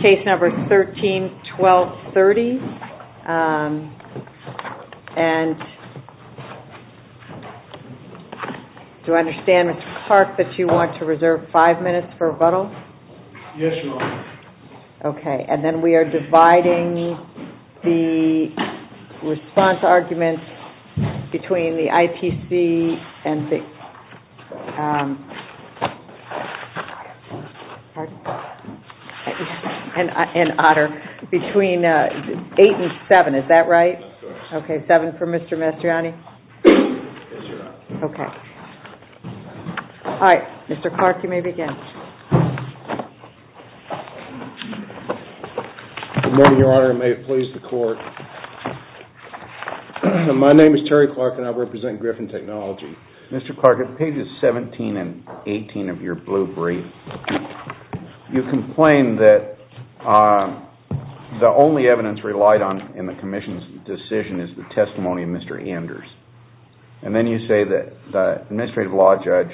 CASE NUMBER 13-12-30. Do I understand, Mr. Clark, that you want to reserve five minutes for rebuttal? Yes, ma'am. Okay, and then we are dividing the response arguments between the ITC and Otter, between eight and seven, is that right? Yes, ma'am. Okay, seven for Mr. Mastriani? Yes, ma'am. Okay. All right, Mr. Clark, you may begin. Good morning, Your Honor, and may it please the Court. My name is Terry Clark and I represent Griffin Technology. Mr. Clark, on pages 17 and 18 of your blue brief, you complain that the only evidence that the Administrative Law Judge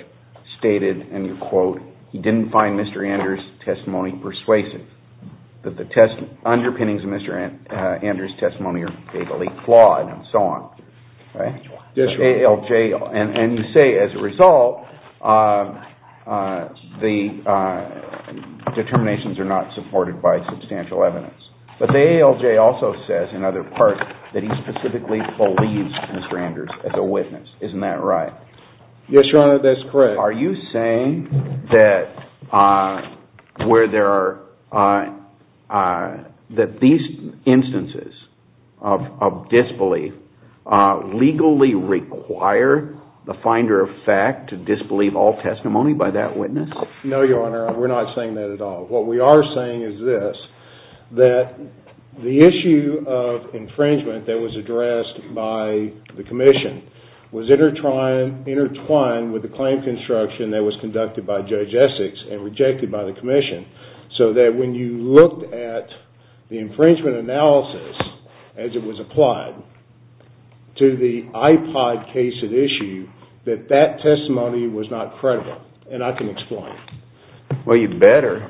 stated, and you quote, he didn't find Mr. Anders' testimony persuasive, that the underpinnings of Mr. Anders' testimony are vaguely flawed and so on. That's right. Right? Yes, Your Honor. And you say, as a result, the determinations are not supported by substantial evidence. But the ALJ also says, in other parts, that he specifically believes Mr. Anders as a witness. Isn't that right? Yes, Your Honor, that's correct. Are you saying that these instances of disbelief legally require the finder of fact to disbelieve all testimony by that witness? No, Your Honor, we're not saying that at all. What we are saying is this, that the issue of infringement that was addressed by the Commission was intertwined with the claim construction that was conducted by Judge Essex and rejected by the Commission, so that when you looked at the infringement analysis as it was applied to the iPod case at issue, that that testimony was not credible. And I can explain. Well, you'd better,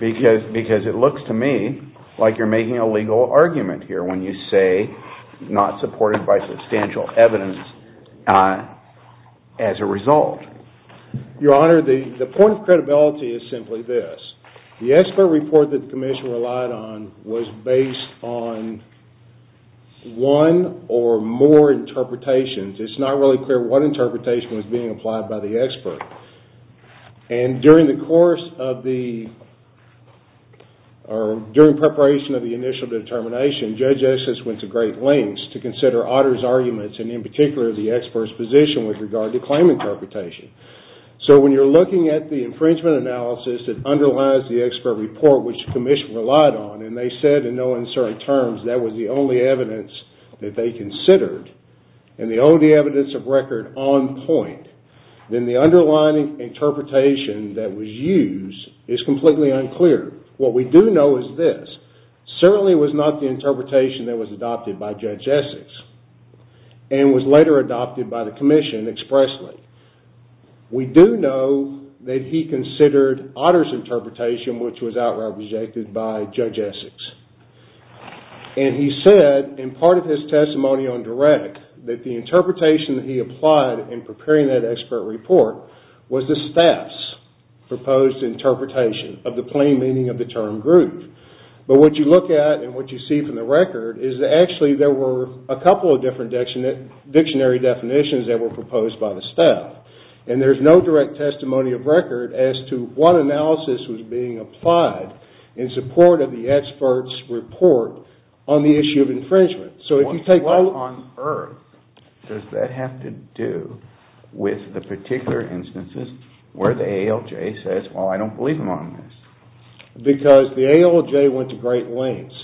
because it looks to me like you're making a legal argument here when you say, not supported by substantial evidence, as a result. Your Honor, the point of credibility is simply this. The expert report that the Commission relied on was based on one or more interpretations. It's not really clear what interpretation was being applied by the expert. And during the course of the, or during preparation of the initial determination, Judge Essex went to great lengths to consider Otter's arguments and in particular the expert's position with regard to claim interpretation. So when you're looking at the infringement analysis that underlies the expert report, which the Commission relied on, and they said in no uncertain terms that was the only evidence that they considered, and the only evidence of record on point, then the underlying interpretation that was used is completely unclear. What we do know is this. Certainly it was not the interpretation that was adopted by Judge Essex, and was later adopted by the Commission expressly. We do know that he considered Otter's interpretation, which was outright rejected by Judge Essex. And he said, in part of his testimony on direct, that the interpretation that he applied in preparing that expert report was the staff's proposed interpretation of the plain meaning of the term group. But what you look at, and what you see from the record, is that actually there were a couple of different dictionary definitions that were proposed by the staff. And there's no direct testimony of record as to what analysis was being applied in support of the expert's report on the issue of infringement. So if you take all of... What on earth does that have to do with the particular instances where the ALJ says, well, I don't believe him on this? Because the ALJ went to great lengths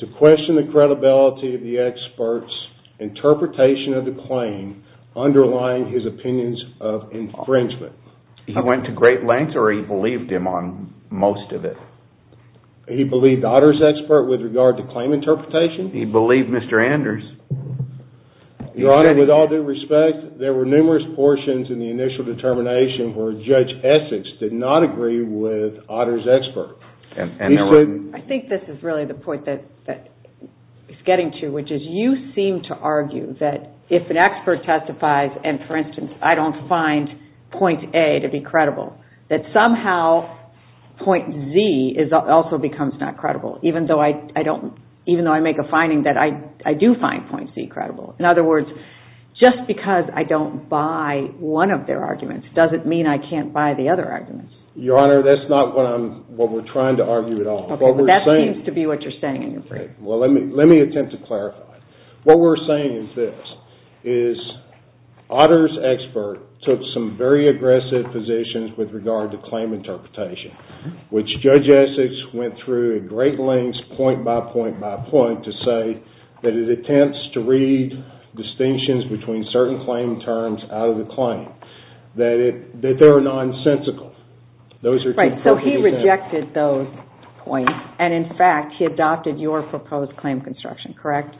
to question the credibility of the expert's interpretation of the plain underlying his opinions of infringement. He went to great lengths, or he believed him on most of it? He believed Otter's expert with regard to claim interpretation? He believed Mr. Anders. Your Honor, with all due respect, there were numerous portions in the initial determination where Judge Essex did not agree with Otter's expert. And there were... I think this is really the point that he's getting to, which is you seem to argue that if an expert testifies, and for instance, I don't find point A to be credible, that somehow point Z also becomes not credible, even though I make a finding that I do find point C credible. In other words, just because I don't buy one of their arguments doesn't mean I can't buy the other arguments. Your Honor, that's not what we're trying to argue at all. Okay, but that seems to be what you're saying in your brief. Let me attempt to clarify. What we're saying is this, is Otter's expert took some very aggressive positions with regard to claim interpretation, which Judge Essex went through at great lengths, point by point by point, to say that it attempts to read distinctions between certain claim terms out of the claim, that they're nonsensical. Those are... Right, so he rejected those points, and in fact, he adopted your proposed claim construction, correct?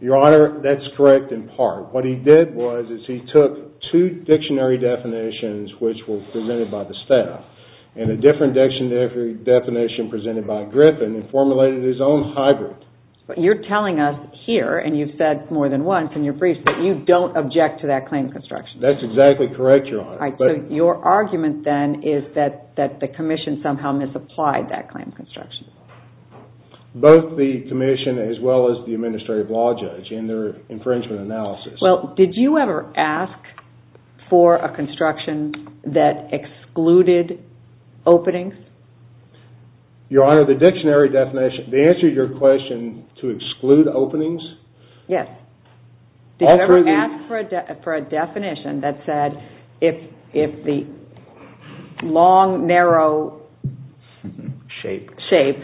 Your Honor, that's correct in part. What he did was he took two dictionary definitions, which were presented by the staff, and a different dictionary definition presented by Griffin, and formulated his own hybrid. You're telling us here, and you've said more than once in your brief, that you don't object to that claim construction. That's exactly correct, Your Honor. Your argument then is that the commission somehow misapplied that claim construction. Both the commission, as well as the administrative law judge, in their infringement analysis. Well, did you ever ask for a construction that excluded openings? Your Honor, the dictionary definition, the answer to your question, to exclude openings? Yes. Did you ever ask for a definition that said, if the long, narrow shape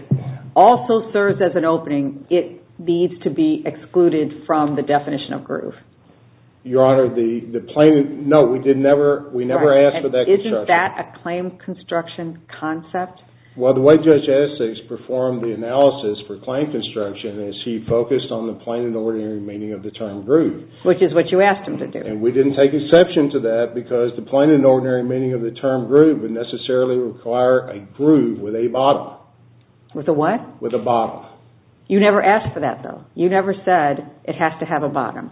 also serves as an opening, it needs to be excluded from the definition of groove? Your Honor, no, we never asked for that construction. Isn't that a claim construction concept? Well, the way Judge Essex performed the analysis for claim construction, is he focused on the plain and ordinary meaning of the term groove. Which is what you asked him to do. And we didn't take exception to that, because the plain and ordinary meaning of the term groove would necessarily require a groove with a bottom. With a what? With a bottom. You never asked for that, though. You never said, it has to have a bottom.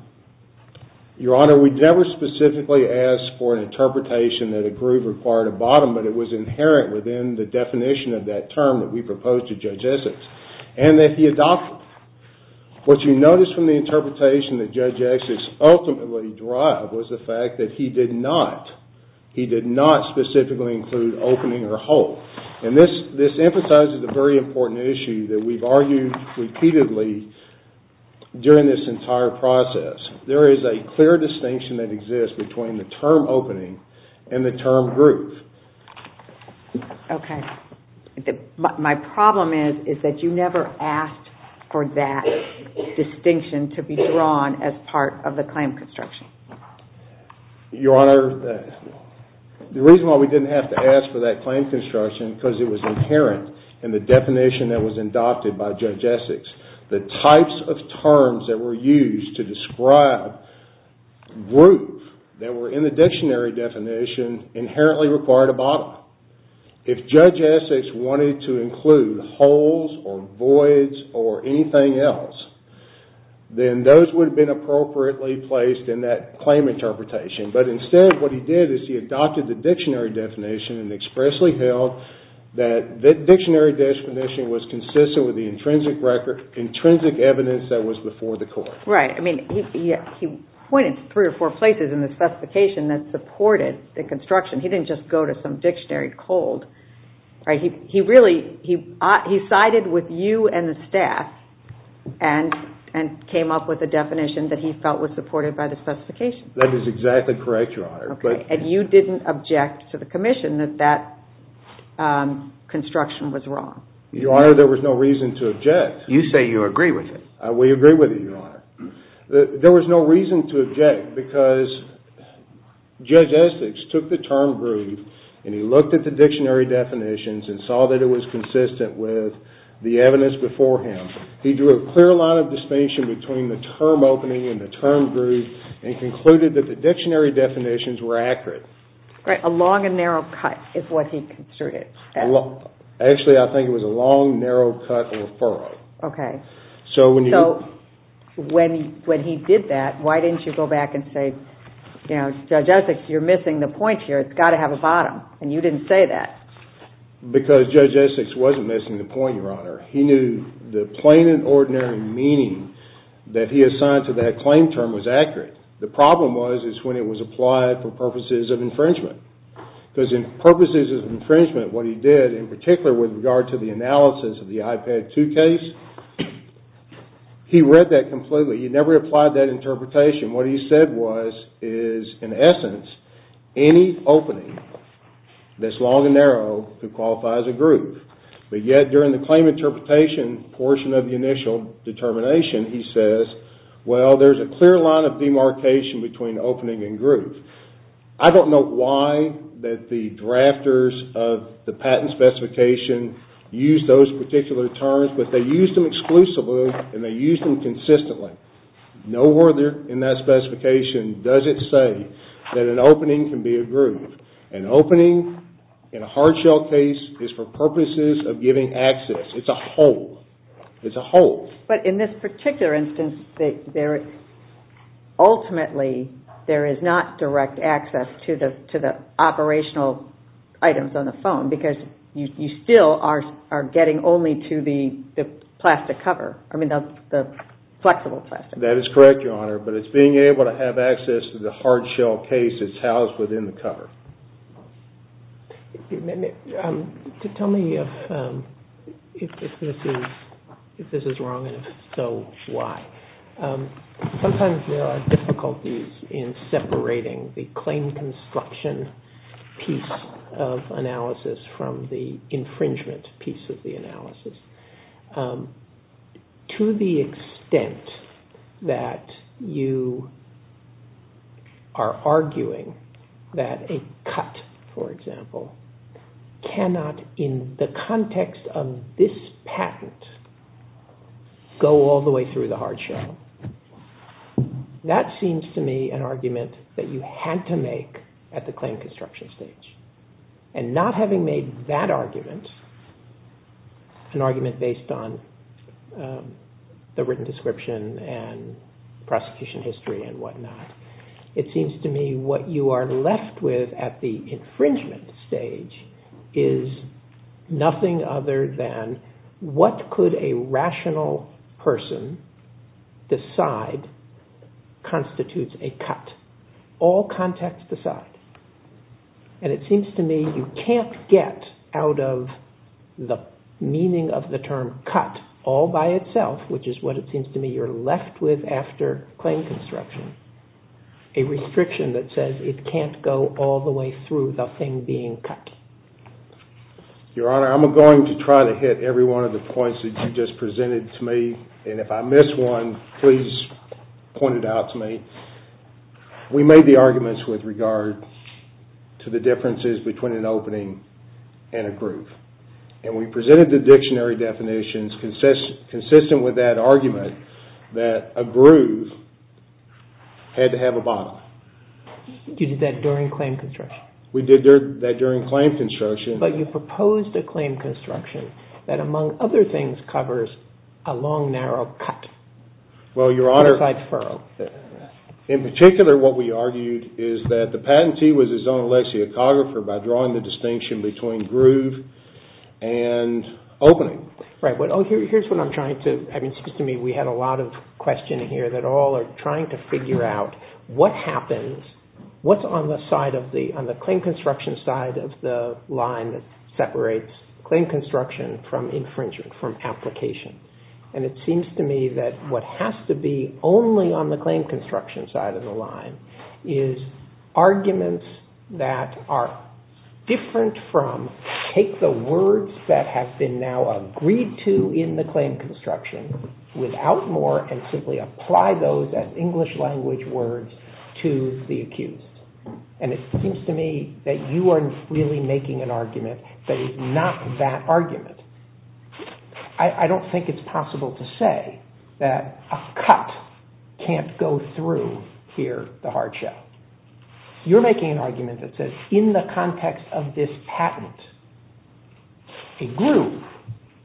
Your Honor, we never specifically asked for an interpretation that a groove required a bottom, but it was inherent within the definition of that term that we proposed to Judge Essex. And that he adopted it. What you notice from the interpretation that Judge Essex ultimately derived was the fact that he did not, he did not specifically include opening or hole. And this emphasizes a very important issue that we've argued repeatedly during this entire process. There is a clear distinction that exists between the term opening and the term groove. Okay. And my problem is, is that you never asked for that distinction to be drawn as part of the claim construction. Your Honor, the reason why we didn't have to ask for that claim construction, because it was inherent in the definition that was adopted by Judge Essex. The types of terms that were used to describe groove that were in the dictionary definition inherently required a bottom. If Judge Essex wanted to include holes or voids or anything else, then those would have been appropriately placed in that claim interpretation. But instead, what he did is he adopted the dictionary definition and expressly held that the dictionary definition was consistent with the intrinsic record, intrinsic evidence that was before the court. Right. I mean, he pointed to three or four places in the specification that supported the construction. He didn't just go to some dictionary cold, right? He really, he sided with you and the staff and came up with a definition that he felt was supported by the specification. That is exactly correct, Your Honor. Okay. And you didn't object to the commission that that construction was wrong? Your Honor, there was no reason to object. You say you agree with it. We agree with it, Your Honor. There was no reason to object because Judge Essex took the term groove and he looked at the dictionary definitions and saw that it was consistent with the evidence before him. He drew a clear line of distinction between the term opening and the term groove and concluded that the dictionary definitions were accurate. Right. A long and narrow cut is what he construed it. Actually, I think it was a long, narrow cut referral. Okay. So when he did that, why didn't you go back and say, you know, Judge Essex, you're missing the point here. It's got to have a bottom. And you didn't say that. Because Judge Essex wasn't missing the point, Your Honor. He knew the plain and ordinary meaning that he assigned to that claim term was accurate. The problem was, is when it was applied for purposes of infringement. Because in purposes of infringement, what he did, in particular with regard to the analysis of the IPAD 2 case, he read that completely. He never applied that interpretation. What he said was, is in essence, any opening that's long and narrow could qualify as a groove. But yet, during the claim interpretation portion of the initial determination, he says, well, there's a clear line of demarcation between opening and groove. I don't know why that the drafters of the patent specification used those particular terms. But they used them exclusively, and they used them consistently. Nowhere in that specification does it say that an opening can be a groove. An opening, in a hard shell case, is for purposes of giving access. It's a hole. It's a hole. But in this particular instance, ultimately, there is not direct access to the operational items on the phone, because you still are getting only to the plastic cover. I mean, the flexible plastic. That is correct, Your Honor. But it's being able to have access to the hard shell case that's housed within the cover. Tell me if this is wrong, and if so, why. Sometimes there are difficulties in separating the claim construction piece of analysis from the infringement piece of the analysis. To the extent that you are arguing that a cut, for example, cannot, in the context of this patent, go all the way through the hard shell, that seems to me an argument that you had to make at the claim construction stage. And not having made that argument, an argument based on the written description and prosecution history and whatnot, it seems to me what you are left with at the infringement stage is nothing other than what could a rational person decide constitutes a cut. All contexts decide. And it seems to me you can't get out of the meaning of the term cut all by itself, which is what it seems to me you're left with after claim construction, a restriction that says it can't go all the way through the thing being cut. Your Honor, I'm going to try to hit every one of the points that you just presented to me. And if I miss one, please point it out to me. We made the arguments with regard to the differences between an opening and a groove. And we presented the dictionary definitions consistent with that argument that a groove had to have a bottom. You did that during claim construction? We did that during claim construction. But you proposed a claim construction that, among other things, covers a long, narrow cut. Well, Your Honor, in particular what we argued is that the patentee was his own alexiographer by drawing the distinction between groove and opening. Right. Here's what I'm trying to, I mean, it seems to me we had a lot of questioning here that all are trying to figure out what happens, what's on the side of the, on the claim construction side of the line that separates claim construction from infringement, from application. And it seems to me that what has to be only on the claim construction side of the line is arguments that are different from, take the words that have been now agreed to in the claim construction without more and simply apply those as English language words to the accused. And it seems to me that you are really making an argument that is not that argument. I don't think it's possible to say that a cut can't go through here the hard shell. You're making an argument that says in the context of this patent, a groove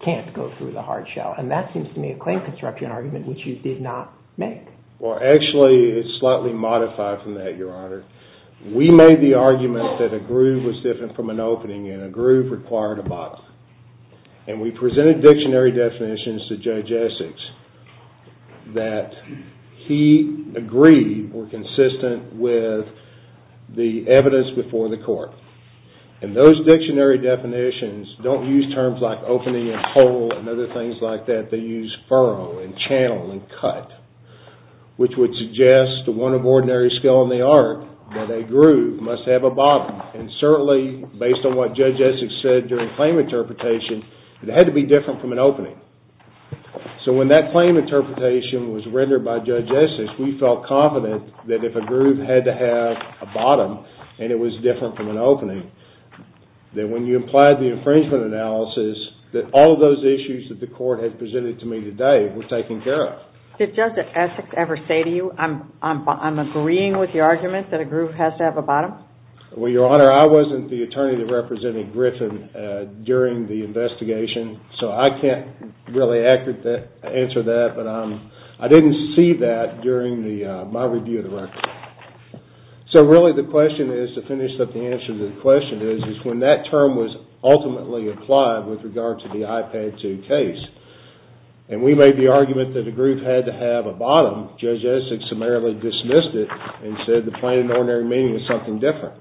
can't go through the hard shell. And that seems to me a claim construction argument which you did not make. Well, actually it's slightly modified from that, Your Honor. We made the argument that a groove was different from an opening and a groove required a bottom. And we presented dictionary definitions to Judge Essex that he agreed were consistent with the evidence before the court. And those dictionary definitions don't use terms like opening and hole and other things like that, they use furrow and channel and cut. Which would suggest to one of ordinary skill in the art that a groove must have a bottom. And certainly based on what Judge Essex said during claim interpretation, it had to be different from an opening. So when that claim interpretation was rendered by Judge Essex, we felt confident that if a groove had to have a bottom and it was different from an opening, that when you applied the infringement analysis, that all of those issues that the court had presented to me today were taken care of. Did Judge Essex ever say to you, I'm agreeing with your argument that a groove has to have a bottom? Well, Your Honor, I wasn't the attorney that represented Griffin during the investigation, so I can't really answer that, but I didn't see that during my review of the record. So really the question is, to finish up the answer to the question, is when that term was ultimately applied with regard to the IPAD 2 case, and we made the argument that a groove had to have a bottom, Judge Essex summarily dismissed it and said the plain and ordinary meaning is something different.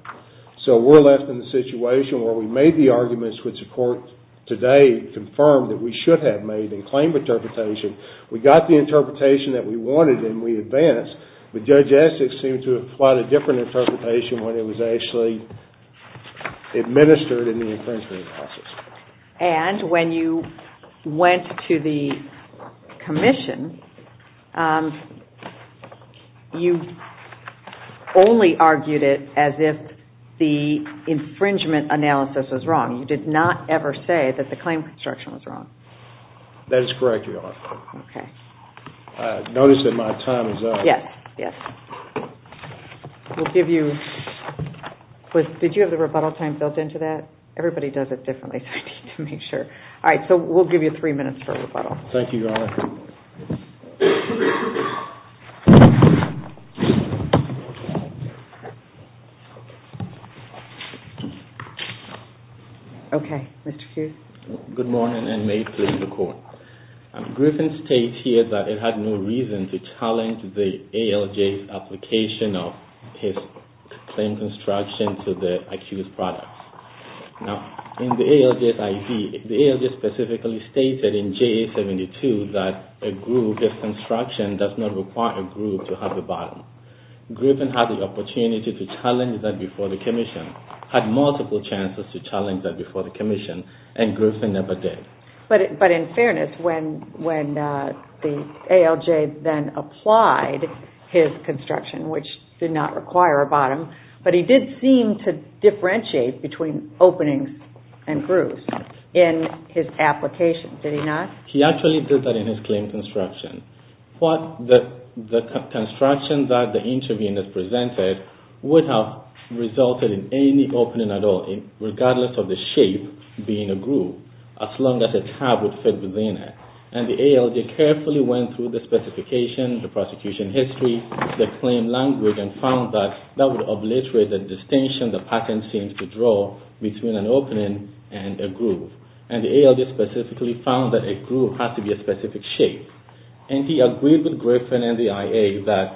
So we're left in the situation where we made the arguments which the court today confirmed that we should have made in claim interpretation. We got the interpretation that we wanted and we advanced, but Judge Essex seemed to have applied a different interpretation when it was actually administered in the infringement analysis. And when you went to the commission, you only argued it as if the infringement analysis was wrong. You did not ever say that the claim construction was wrong. That is correct, Your Honor. Notice that my time is up. Yes. We'll give you, did you have the rebuttal time built into that? Everybody does it differently, so I need to make sure. All right, so we'll give you three minutes for a rebuttal. Thank you, Your Honor. Okay, Mr. Hughes. Good morning and may it please the Court. Griffin states here that it had no reason to challenge the ALJ's application of his claim construction to the accused products. Now, in the ALJ's IV, the ALJ specifically stated in JA-72 that a group, if construction does not require a group to have the bottom. Griffin had the opportunity to challenge that before the commission, had multiple chances to challenge that before the commission, and Griffin never did. But in fairness, when the ALJ then applied his construction, which did not require a bottom, but he did seem to differentiate between openings and grooves in his application, did he not? He actually did that in his claim construction. What the construction that the interviewee has presented would have resulted in any opening at all, regardless of the shape being a groove, as long as a tab would fit within it. And the ALJ carefully went through the specification, the prosecution history, the claim language, and found that that would obliterate the distinction the patent seems to draw between an opening and a groove. And the ALJ specifically found that a groove has to be a specific shape. And he agreed with Griffin and the IA that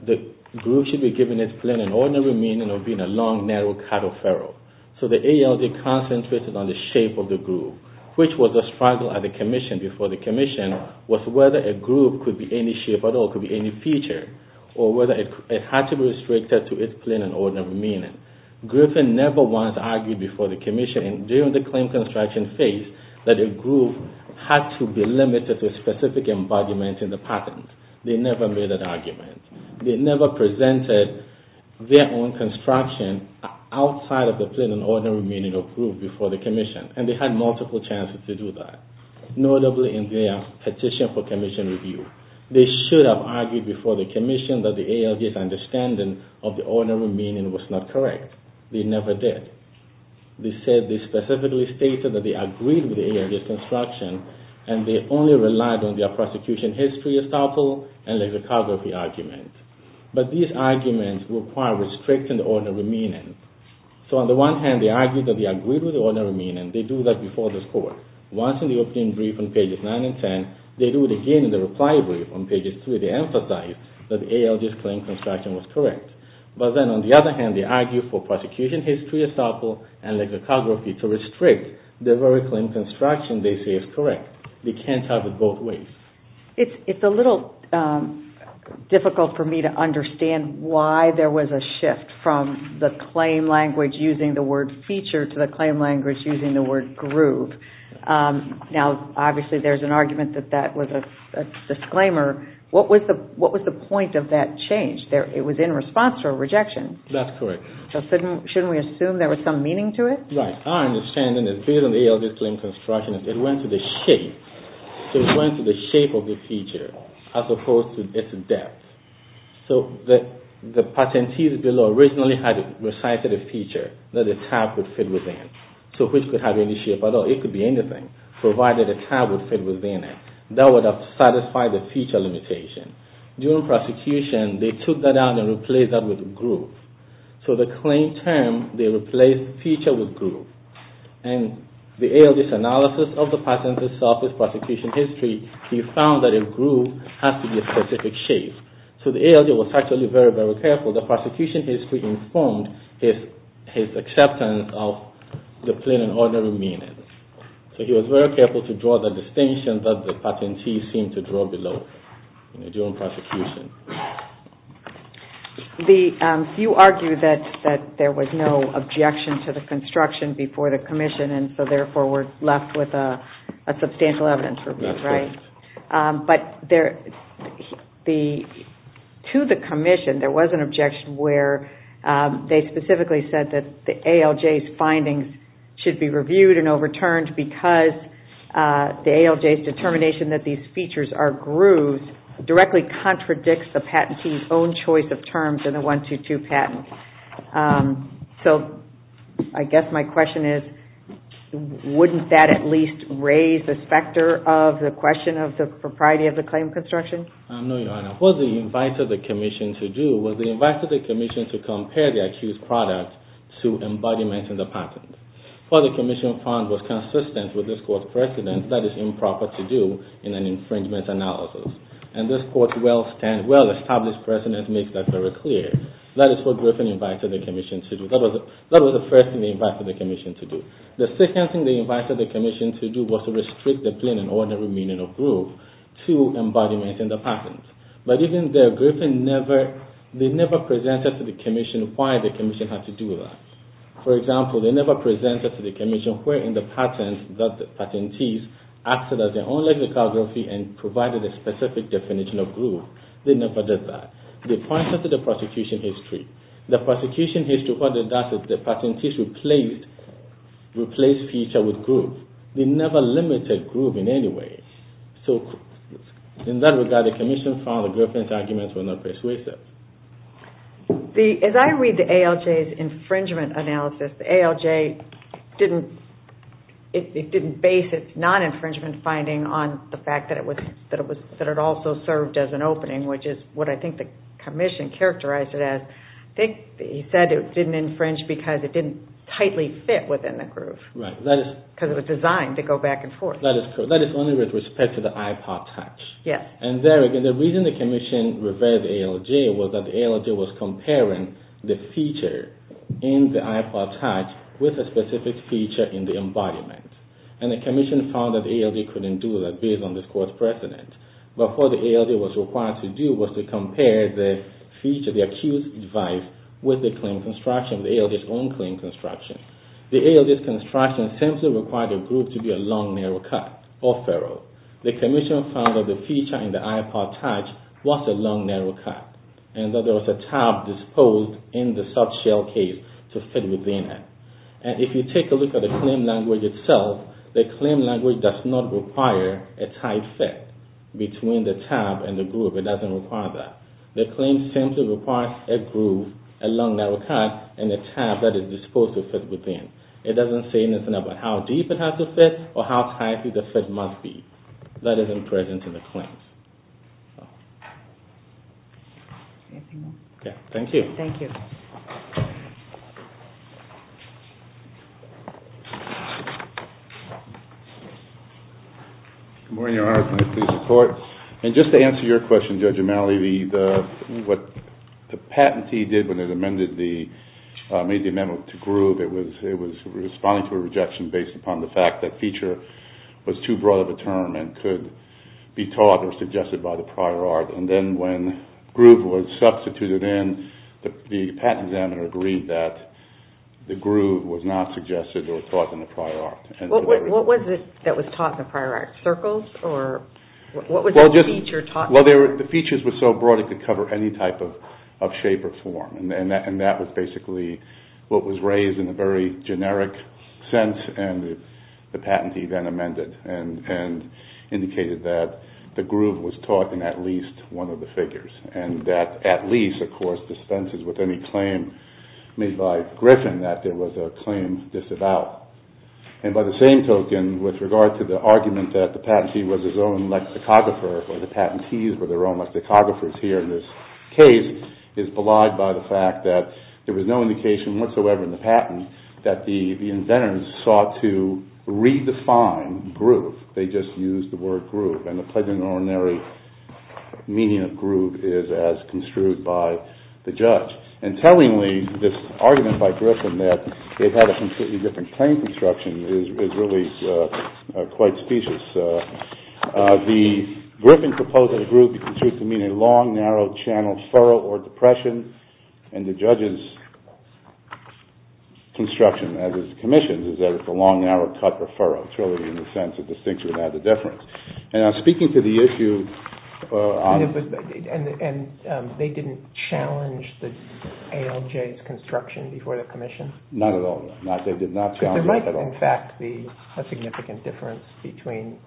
the groove should be given its plain and ordinary meaning of being a long, narrow cut of ferrule. So the ALJ concentrated on the shape of the groove, which was a struggle at the commission, before the commission, was whether a groove could be any shape at all, could be any feature, or whether it had to be restricted to its plain and ordinary meaning. Griffin never once argued before the commission, during the claim construction phase, that a groove had to be limited to a specific embodiment in the patent. They never made that argument. They never presented their own construction outside of the plain and ordinary meaning of groove before the commission. And they had multiple chances to do that, notably in their petition for commission review. They should have argued before the commission that the ALJ's understanding of the ordinary meaning was not correct. They never did. They specifically stated that they agreed with the ALJ's construction, and they only relied on their prosecution history estoppel and lexicography argument. But these arguments require restricting the ordinary meaning. So on the one hand, they argued that they agreed with the ordinary meaning. They do that before the court. Once in the opening brief on pages 9 and 10, they do it again in the reply brief on pages 3. They emphasize that the ALJ's claim construction was correct. But then on the other hand, they argue for prosecution history estoppel and lexicography to restrict the very claim construction they say is correct. They can't have it both ways. It's a little difficult for me to understand why there was a shift from the claim language using the word feature to the claim language using the word groove. Now, obviously, there's an argument that that was a disclaimer. What was the point of that change? It was in response to a rejection. That's correct. So shouldn't we assume there was some meaning to it? Right. Our understanding is based on the ALJ's claim construction, it went to the shape. So it went to the shape of the feature as opposed to its depth. So the patentees below originally had recited a feature that the tab would fit within. So which could have any shape at all. It could be anything, provided the tab would fit within it. That would have satisfied the feature limitation. During prosecution, they took that out and replaced that with groove. So the claim term, they replaced feature with groove. And the ALJ's analysis of the patentee's self-prosecution history, he found that a groove has to be a specific shape. So the ALJ was actually very, very careful. The prosecution history informed his acceptance of the plain and ordinary meaning. So he was very careful to draw the distinction that the patentee seemed to draw below during prosecution. You argue that there was no objection to the construction before the commission, and so therefore we're left with a substantial evidence review, right? That's correct. But to the commission, there was an objection where they specifically said that the ALJ's findings should be reviewed and overturned because the ALJ's determination that these features are grooves directly contradicts the patentee's own choice of terms in the 1-2-2 patent. So I guess my question is, wouldn't that at least raise the specter of the question of the propriety of the claim construction? No, Your Honor. What they invited the commission to do was they invited the commission to compare the accused product to embodiments in the patent. What the commission found was consistent with this court's precedent that it's improper to do in an infringement analysis. And this court's well-established precedent makes that very clear. That is what Griffin invited the commission to do. That was the first thing they invited the commission to do. The second thing they invited the commission to do was to restrict the plain and ordinary meaning of groove to embodiments in the patent. But even there, Griffin never presented to the commission why the commission had to do that. For example, they never presented to the commission where in the patent that the patentee acted as their own lexicography and provided a specific definition of groove. They never did that. They pointed to the prosecution history. The prosecution history, what they did was the patentee replaced feature with groove. They never limited groove in any way. So in that regard, the commission found that Griffin's arguments were not persuasive. As I read the ALJ's infringement analysis, the ALJ didn't base its non-infringement finding on the fact that it also served as an opening, which is what I think the commission characterized it as. I think he said it didn't infringe because it didn't tightly fit within the groove. Right. Because it was designed to go back and forth. That is only with respect to the iPod touch. Yes. And there again, the reason the commission referred to the ALJ was that the ALJ was comparing the feature in the iPod touch with a specific feature in the embodiment. And the commission found that the ALJ couldn't do that based on this court precedent. But what the ALJ was required to do was to compare the feature, the accused device, with the claim construction, the ALJ's own claim construction. The ALJ's construction simply required a groove to be a long, narrow cut or ferrule. The commission found that the feature in the iPod touch was a long, narrow cut and that there was a tab disposed in the sub-shell case to fit within it. And if you take a look at the claim language itself, the claim language does not require a tight fit between the tab and the groove. It doesn't require that. The claim simply requires a groove, a long, narrow cut, and a tab that is disposed to fit within. It doesn't say anything about how deep it has to fit or how tight the fit must be. That isn't present in the claims. Anything else? Yes. Thank you. Thank you. Good morning, Your Honor. Can I please report? And just to answer your question, Judge O'Malley, what the patentee did when they made the amendment to groove, it was responding to a rejection based upon the fact that feature was too broad of a term and could be taught or suggested by the prior art. And then when groove was substituted in, the patent examiner agreed that the groove was not suggested or taught in the prior art. What was it that was taught in the prior art? Circles or what was the feature taught? Well, the features were so broad it could cover any type of shape or form. And that was basically what was raised in a very generic sense. And the patentee then amended and indicated that the groove was taught in at least one of the figures. And that at least, of course, dispenses with any claim made by Griffin that there was a claim disavowed. And by the same token, with regard to the argument that the patentee was his own lexicographer, or the patentees were their own lexicographers here in this case, is belied by the fact that there was no indication whatsoever in the patent that the inventors sought to redefine groove. They just used the word groove. And the pledge of an ordinary meaning of groove is as construed by the judge. And tellingly, this argument by Griffin that it had a completely different claim construction is really quite specious. The Griffin proposal of groove is construed to mean a long, narrow-channel furrow or depression. And the judge's construction as it's commissioned is that it's a long, narrow-cut or furrow, truly in the sense of distinction without a difference. And I'm speaking to the issue... And they didn't challenge the ALJ's construction before the commission? Not at all, no. They did not challenge it at all. There might, in fact, be a significant difference between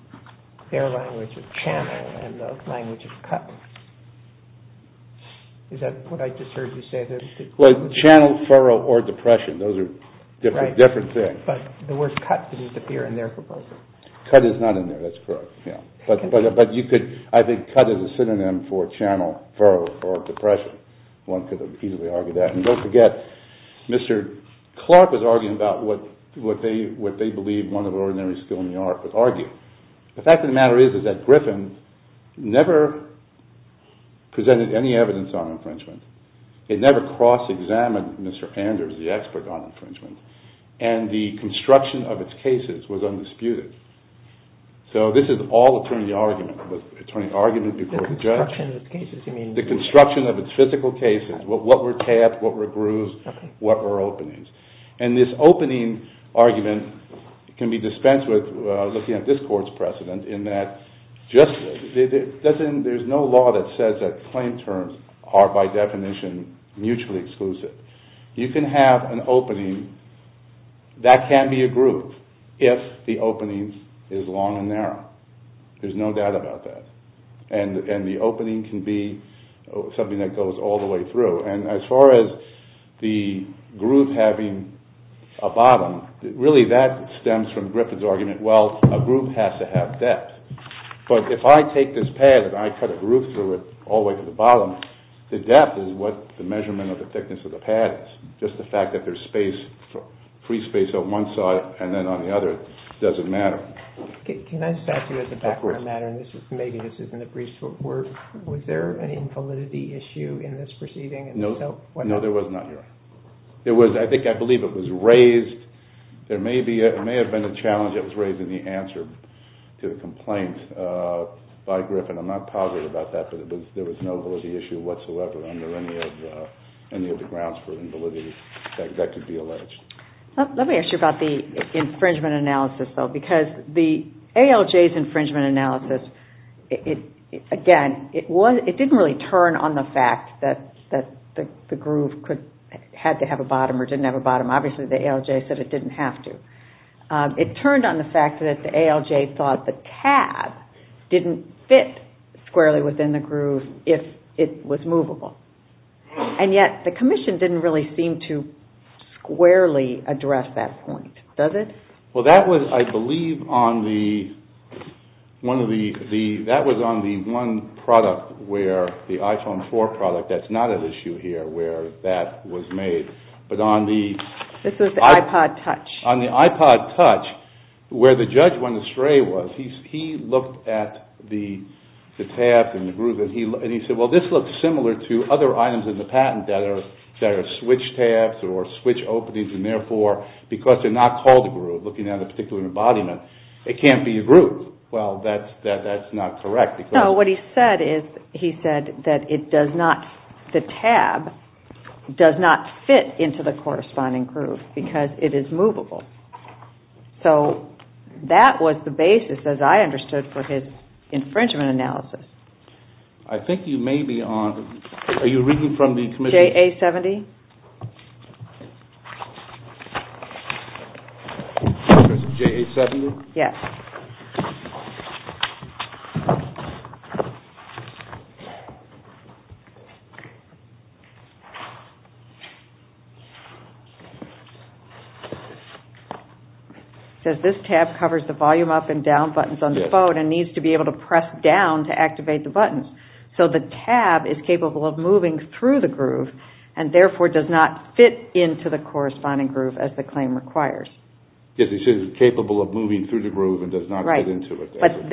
their language of channel and the language of cut. Is that what I just heard you say? Well, channel, furrow, or depression, those are different things. But the word cut didn't appear in their proposal. Cut is not in there, that's correct. But you could, I think, cut is a synonym for channel, furrow, or depression. One could easily argue that. And don't forget, Mr. Clark was arguing about what they believe one of the ordinary skill in the art would argue. The fact of the matter is that Griffin never presented any evidence on infringement. It never cross-examined Mr. Anders, the expert on infringement. And the construction of its cases was undisputed. So this is all attorney argument. The construction of its cases, you mean? The construction of its physical cases, what were tabs, what were grooves, what were openings. And this opening argument can be dispensed with looking at this court's precedent, in that there's no law that says that claim terms are, by definition, mutually exclusive. You can have an opening that can be a groove if the opening is long and narrow. There's no doubt about that. And the opening can be something that goes all the way through. And as far as the groove having a bottom, really that stems from Griffin's argument, well, a groove has to have depth. But if I take this pad and I cut a groove through it all the way to the bottom, the depth is what the measurement of the thickness of the pad is. Just the fact that there's free space on one side and then on the other doesn't matter. Can I just ask you as a background matter, and maybe this isn't a brief sort of word, was there an invalidity issue in this proceeding? No. No, there was not, Your Honor. I think I believe it was raised. There may have been a challenge that was raised in the answer to the complaint by Griffin. I'm not positive about that, but there was no validity issue whatsoever under any of the grounds for invalidity that could be alleged. Let me ask you about the infringement analysis, though, because the ALJ's infringement analysis, again, it didn't really turn on the fact that the groove had to have a bottom or didn't have a bottom. Obviously, the ALJ said it didn't have to. It turned on the fact that the ALJ thought the pad didn't fit squarely within the groove if it was movable. And yet the commission didn't really seem to squarely address that point, does it? Well, that was, I believe, on the one product where the iPhone 4 product, that's not at issue here where that was made. This was the iPod Touch. On the iPod Touch, where the judge went astray was he looked at the tabs in the groove and he said, well, this looks similar to other items in the patent that are switch tabs or switch openings, and therefore, because they're not called a groove, looking at a particular embodiment, it can't be a groove. Well, that's not correct. No, what he said is he said that the tab does not fit into the corresponding groove because it is movable. So that was the basis, as I understood, for his infringement analysis. I think you may be on. Are you reading from the commission? JA-70? JA-70? Yes. It says this tab covers the volume up and down buttons on the phone and needs to be able to press down to activate the buttons. So the tab is capable of moving through the groove and therefore does not fit into the corresponding groove as the claim requires. Yes, he says it's capable of moving through the groove and does not fit into it. Right. But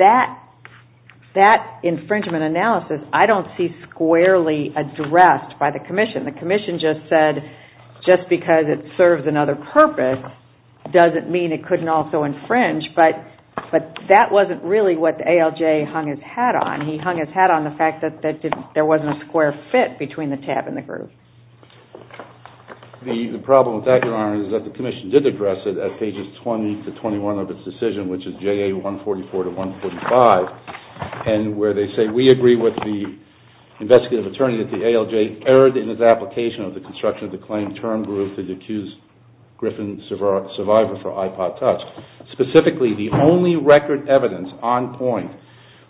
that infringement analysis, I don't see squarely addressed by the commission. The commission just said just because it serves another purpose doesn't mean it couldn't also infringe, but that wasn't really what the ALJ hung his hat on. He hung his hat on the fact that there wasn't a square fit between the tab and the groove. The problem with that, Your Honor, is that the commission did address it at pages 20 to 21 of its decision, which is JA-144 to 145, and where they say, We agree with the investigative attorney that the ALJ erred in its application of the construction of the claim term groove to the accused Griffin survivor for iPod Touch. Specifically, the only record evidence on point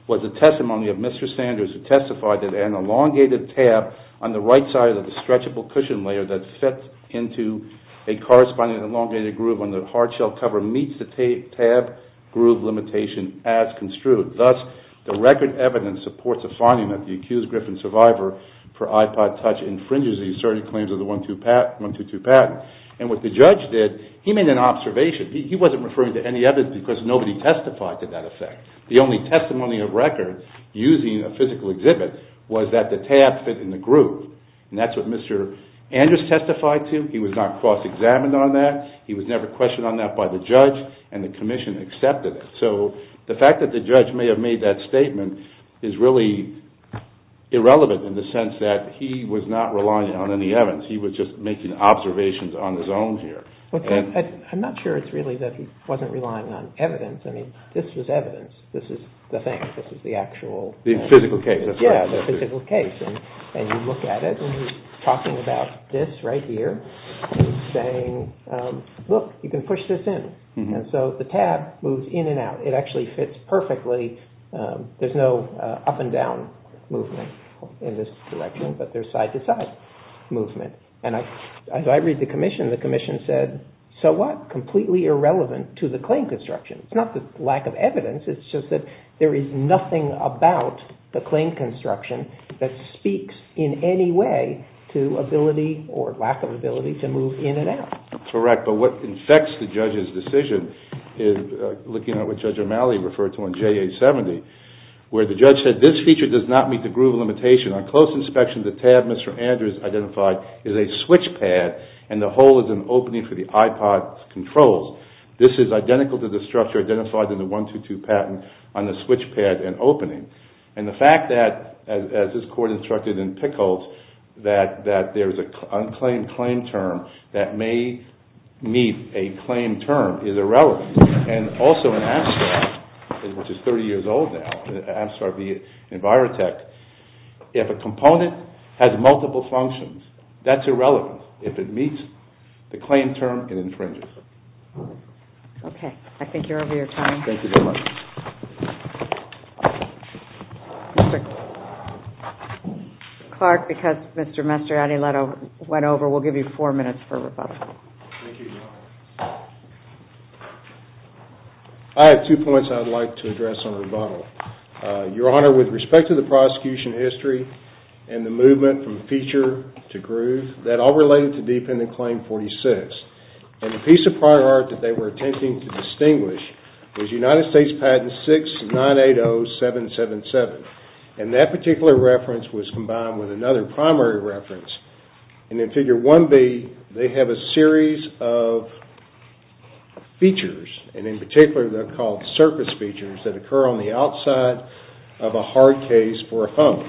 was the testimony of Mr. Sanders who testified that an elongated tab on the right side of the stretchable cushion layer that fits into a corresponding elongated groove on the hard shell cover meets the tab groove limitation as construed. Thus, the record evidence supports the finding that the accused Griffin survivor for iPod Touch infringes the asserted claims of the 122 patent. And what the judge did, he made an observation. He wasn't referring to any evidence because nobody testified to that effect. The only testimony of record using a physical exhibit was that the tab fit in the groove, and that's what Mr. Andrews testified to. He was not cross-examined on that. He was never questioned on that by the judge, and the commission accepted it. So the fact that the judge may have made that statement is really irrelevant in the sense that he was not relying on any evidence. He was just making observations on his own here. I'm not sure it's really that he wasn't relying on evidence. I mean, this was evidence. This is the thing. This is the actual. The physical case. Yeah, the physical case. And you look at it, and he's talking about this right here. He's saying, look, you can push this in. And so the tab moves in and out. It actually fits perfectly. There's no up and down movement in this direction, but there's side-to-side movement. And as I read the commission, the commission said, so what? Completely irrelevant to the claim construction. It's not the lack of evidence. It's just that there is nothing about the claim construction that speaks in any way to ability or lack of ability to move in and out. Correct. But what infects the judge's decision, looking at what Judge O'Malley referred to on JA-70, where the judge said, this feature does not meet the groove limitation. On close inspection, the tab Mr. Andrews identified is a switch pad, and the hole is an opening for the iPod controls. This is identical to the structure identified in the 122 patent on the switch pad and opening. And the fact that, as this court instructed in Pickles, that there's an unclaimed claim term that may meet a claim term is irrelevant. And also in APSTAR, which is 30 years old now, APSTAR v. Envirotech, if a component has multiple functions, that's irrelevant. If it meets the claim term, it infringes. Okay. I think you're over your time. Thank you very much. Mr. Clark, because Mr. Aniletto went over, we'll give you four minutes for rebuttal. Thank you, Your Honor. I have two points I'd like to address on rebuttal. Your Honor, with respect to the prosecution history and the movement from feature to groove, that all related to Defendant Claim 46. And the piece of prior art that they were attempting to distinguish was United States Patent 6980777. And that particular reference was combined with another primary reference. And in Figure 1B, they have a series of features, and in particular they're called surface features, that occur on the outside of a hard case for a home.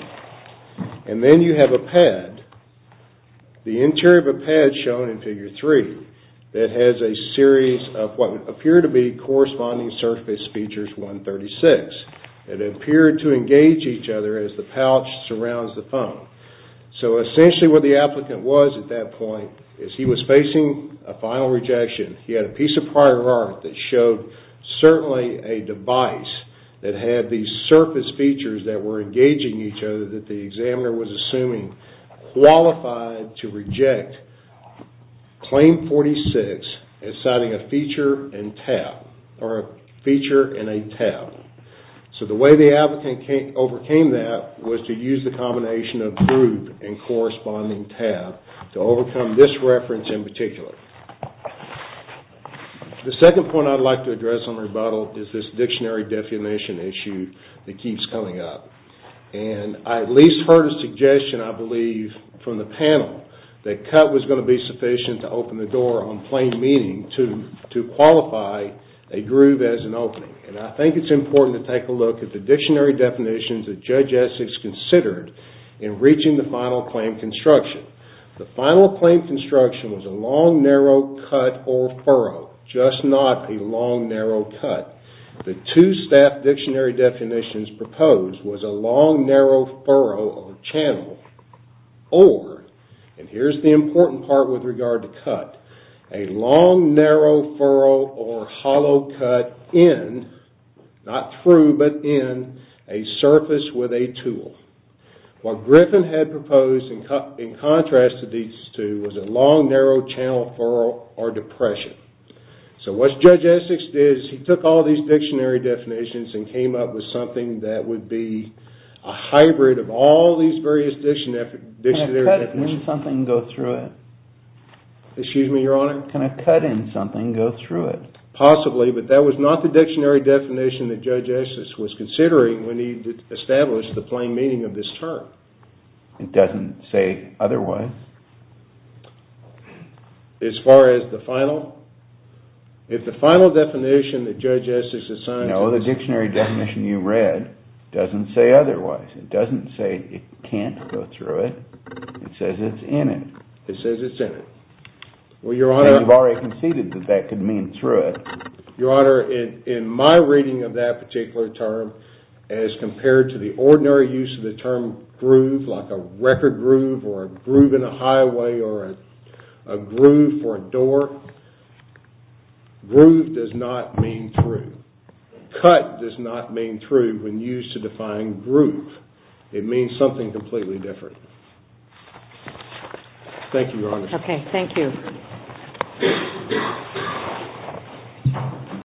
And then you have a pad, the interior of a pad shown in Figure 3, that has a series of what appear to be corresponding surface features 136. It appeared to engage each other as the pouch surrounds the phone. So essentially what the applicant was at that point is he was facing a final rejection. He had a piece of prior art that showed certainly a device that had these surface features that were engaging each other that the examiner was assuming qualified to reject Claim 46 as citing a feature and a tab. So the way the advocate overcame that was to use the combination of groove and corresponding tab to overcome this reference in particular. The second point I'd like to address on rebuttal is this dictionary definition issue that keeps coming up. And I at least heard a suggestion, I believe, from the panel that cut was going to be sufficient to open the door on plain meaning to qualify a groove as an opening. And I think it's important to take a look at the dictionary definitions that Judge Essex considered in reaching the final claim construction. The final claim construction was a long, narrow cut or furrow, just not a long, narrow cut. The two staff dictionary definitions proposed was a long, narrow furrow or channel or, and here's the important part with regard to cut, a long, narrow furrow or hollow cut in, not through but in, a surface with a tool. What Griffin had proposed in contrast to these two was a long, narrow channel furrow or depression. So what Judge Essex did is he took all these dictionary definitions and came up with something that would be a hybrid of all these various dictionary definitions. Can a cut in something go through it? Excuse me, Your Honor? Can a cut in something go through it? Possibly, but that was not the dictionary definition that Judge Essex was considering when he established the plain meaning of this term. It doesn't say otherwise. As far as the final? If the final definition that Judge Essex has signed is No, the dictionary definition you read doesn't say otherwise. It doesn't say it can't go through it. It says it's in it. It says it's in it. Well, Your Honor And you've already conceded that that could mean through it. Your Honor, in my reading of that particular term, as compared to the ordinary use of the term groove, like a record groove or a groove in a highway or a groove for a door, groove does not mean through. Cut does not mean through when used to define groove. It means something completely different. Thank you, Your Honor. Okay, thank you.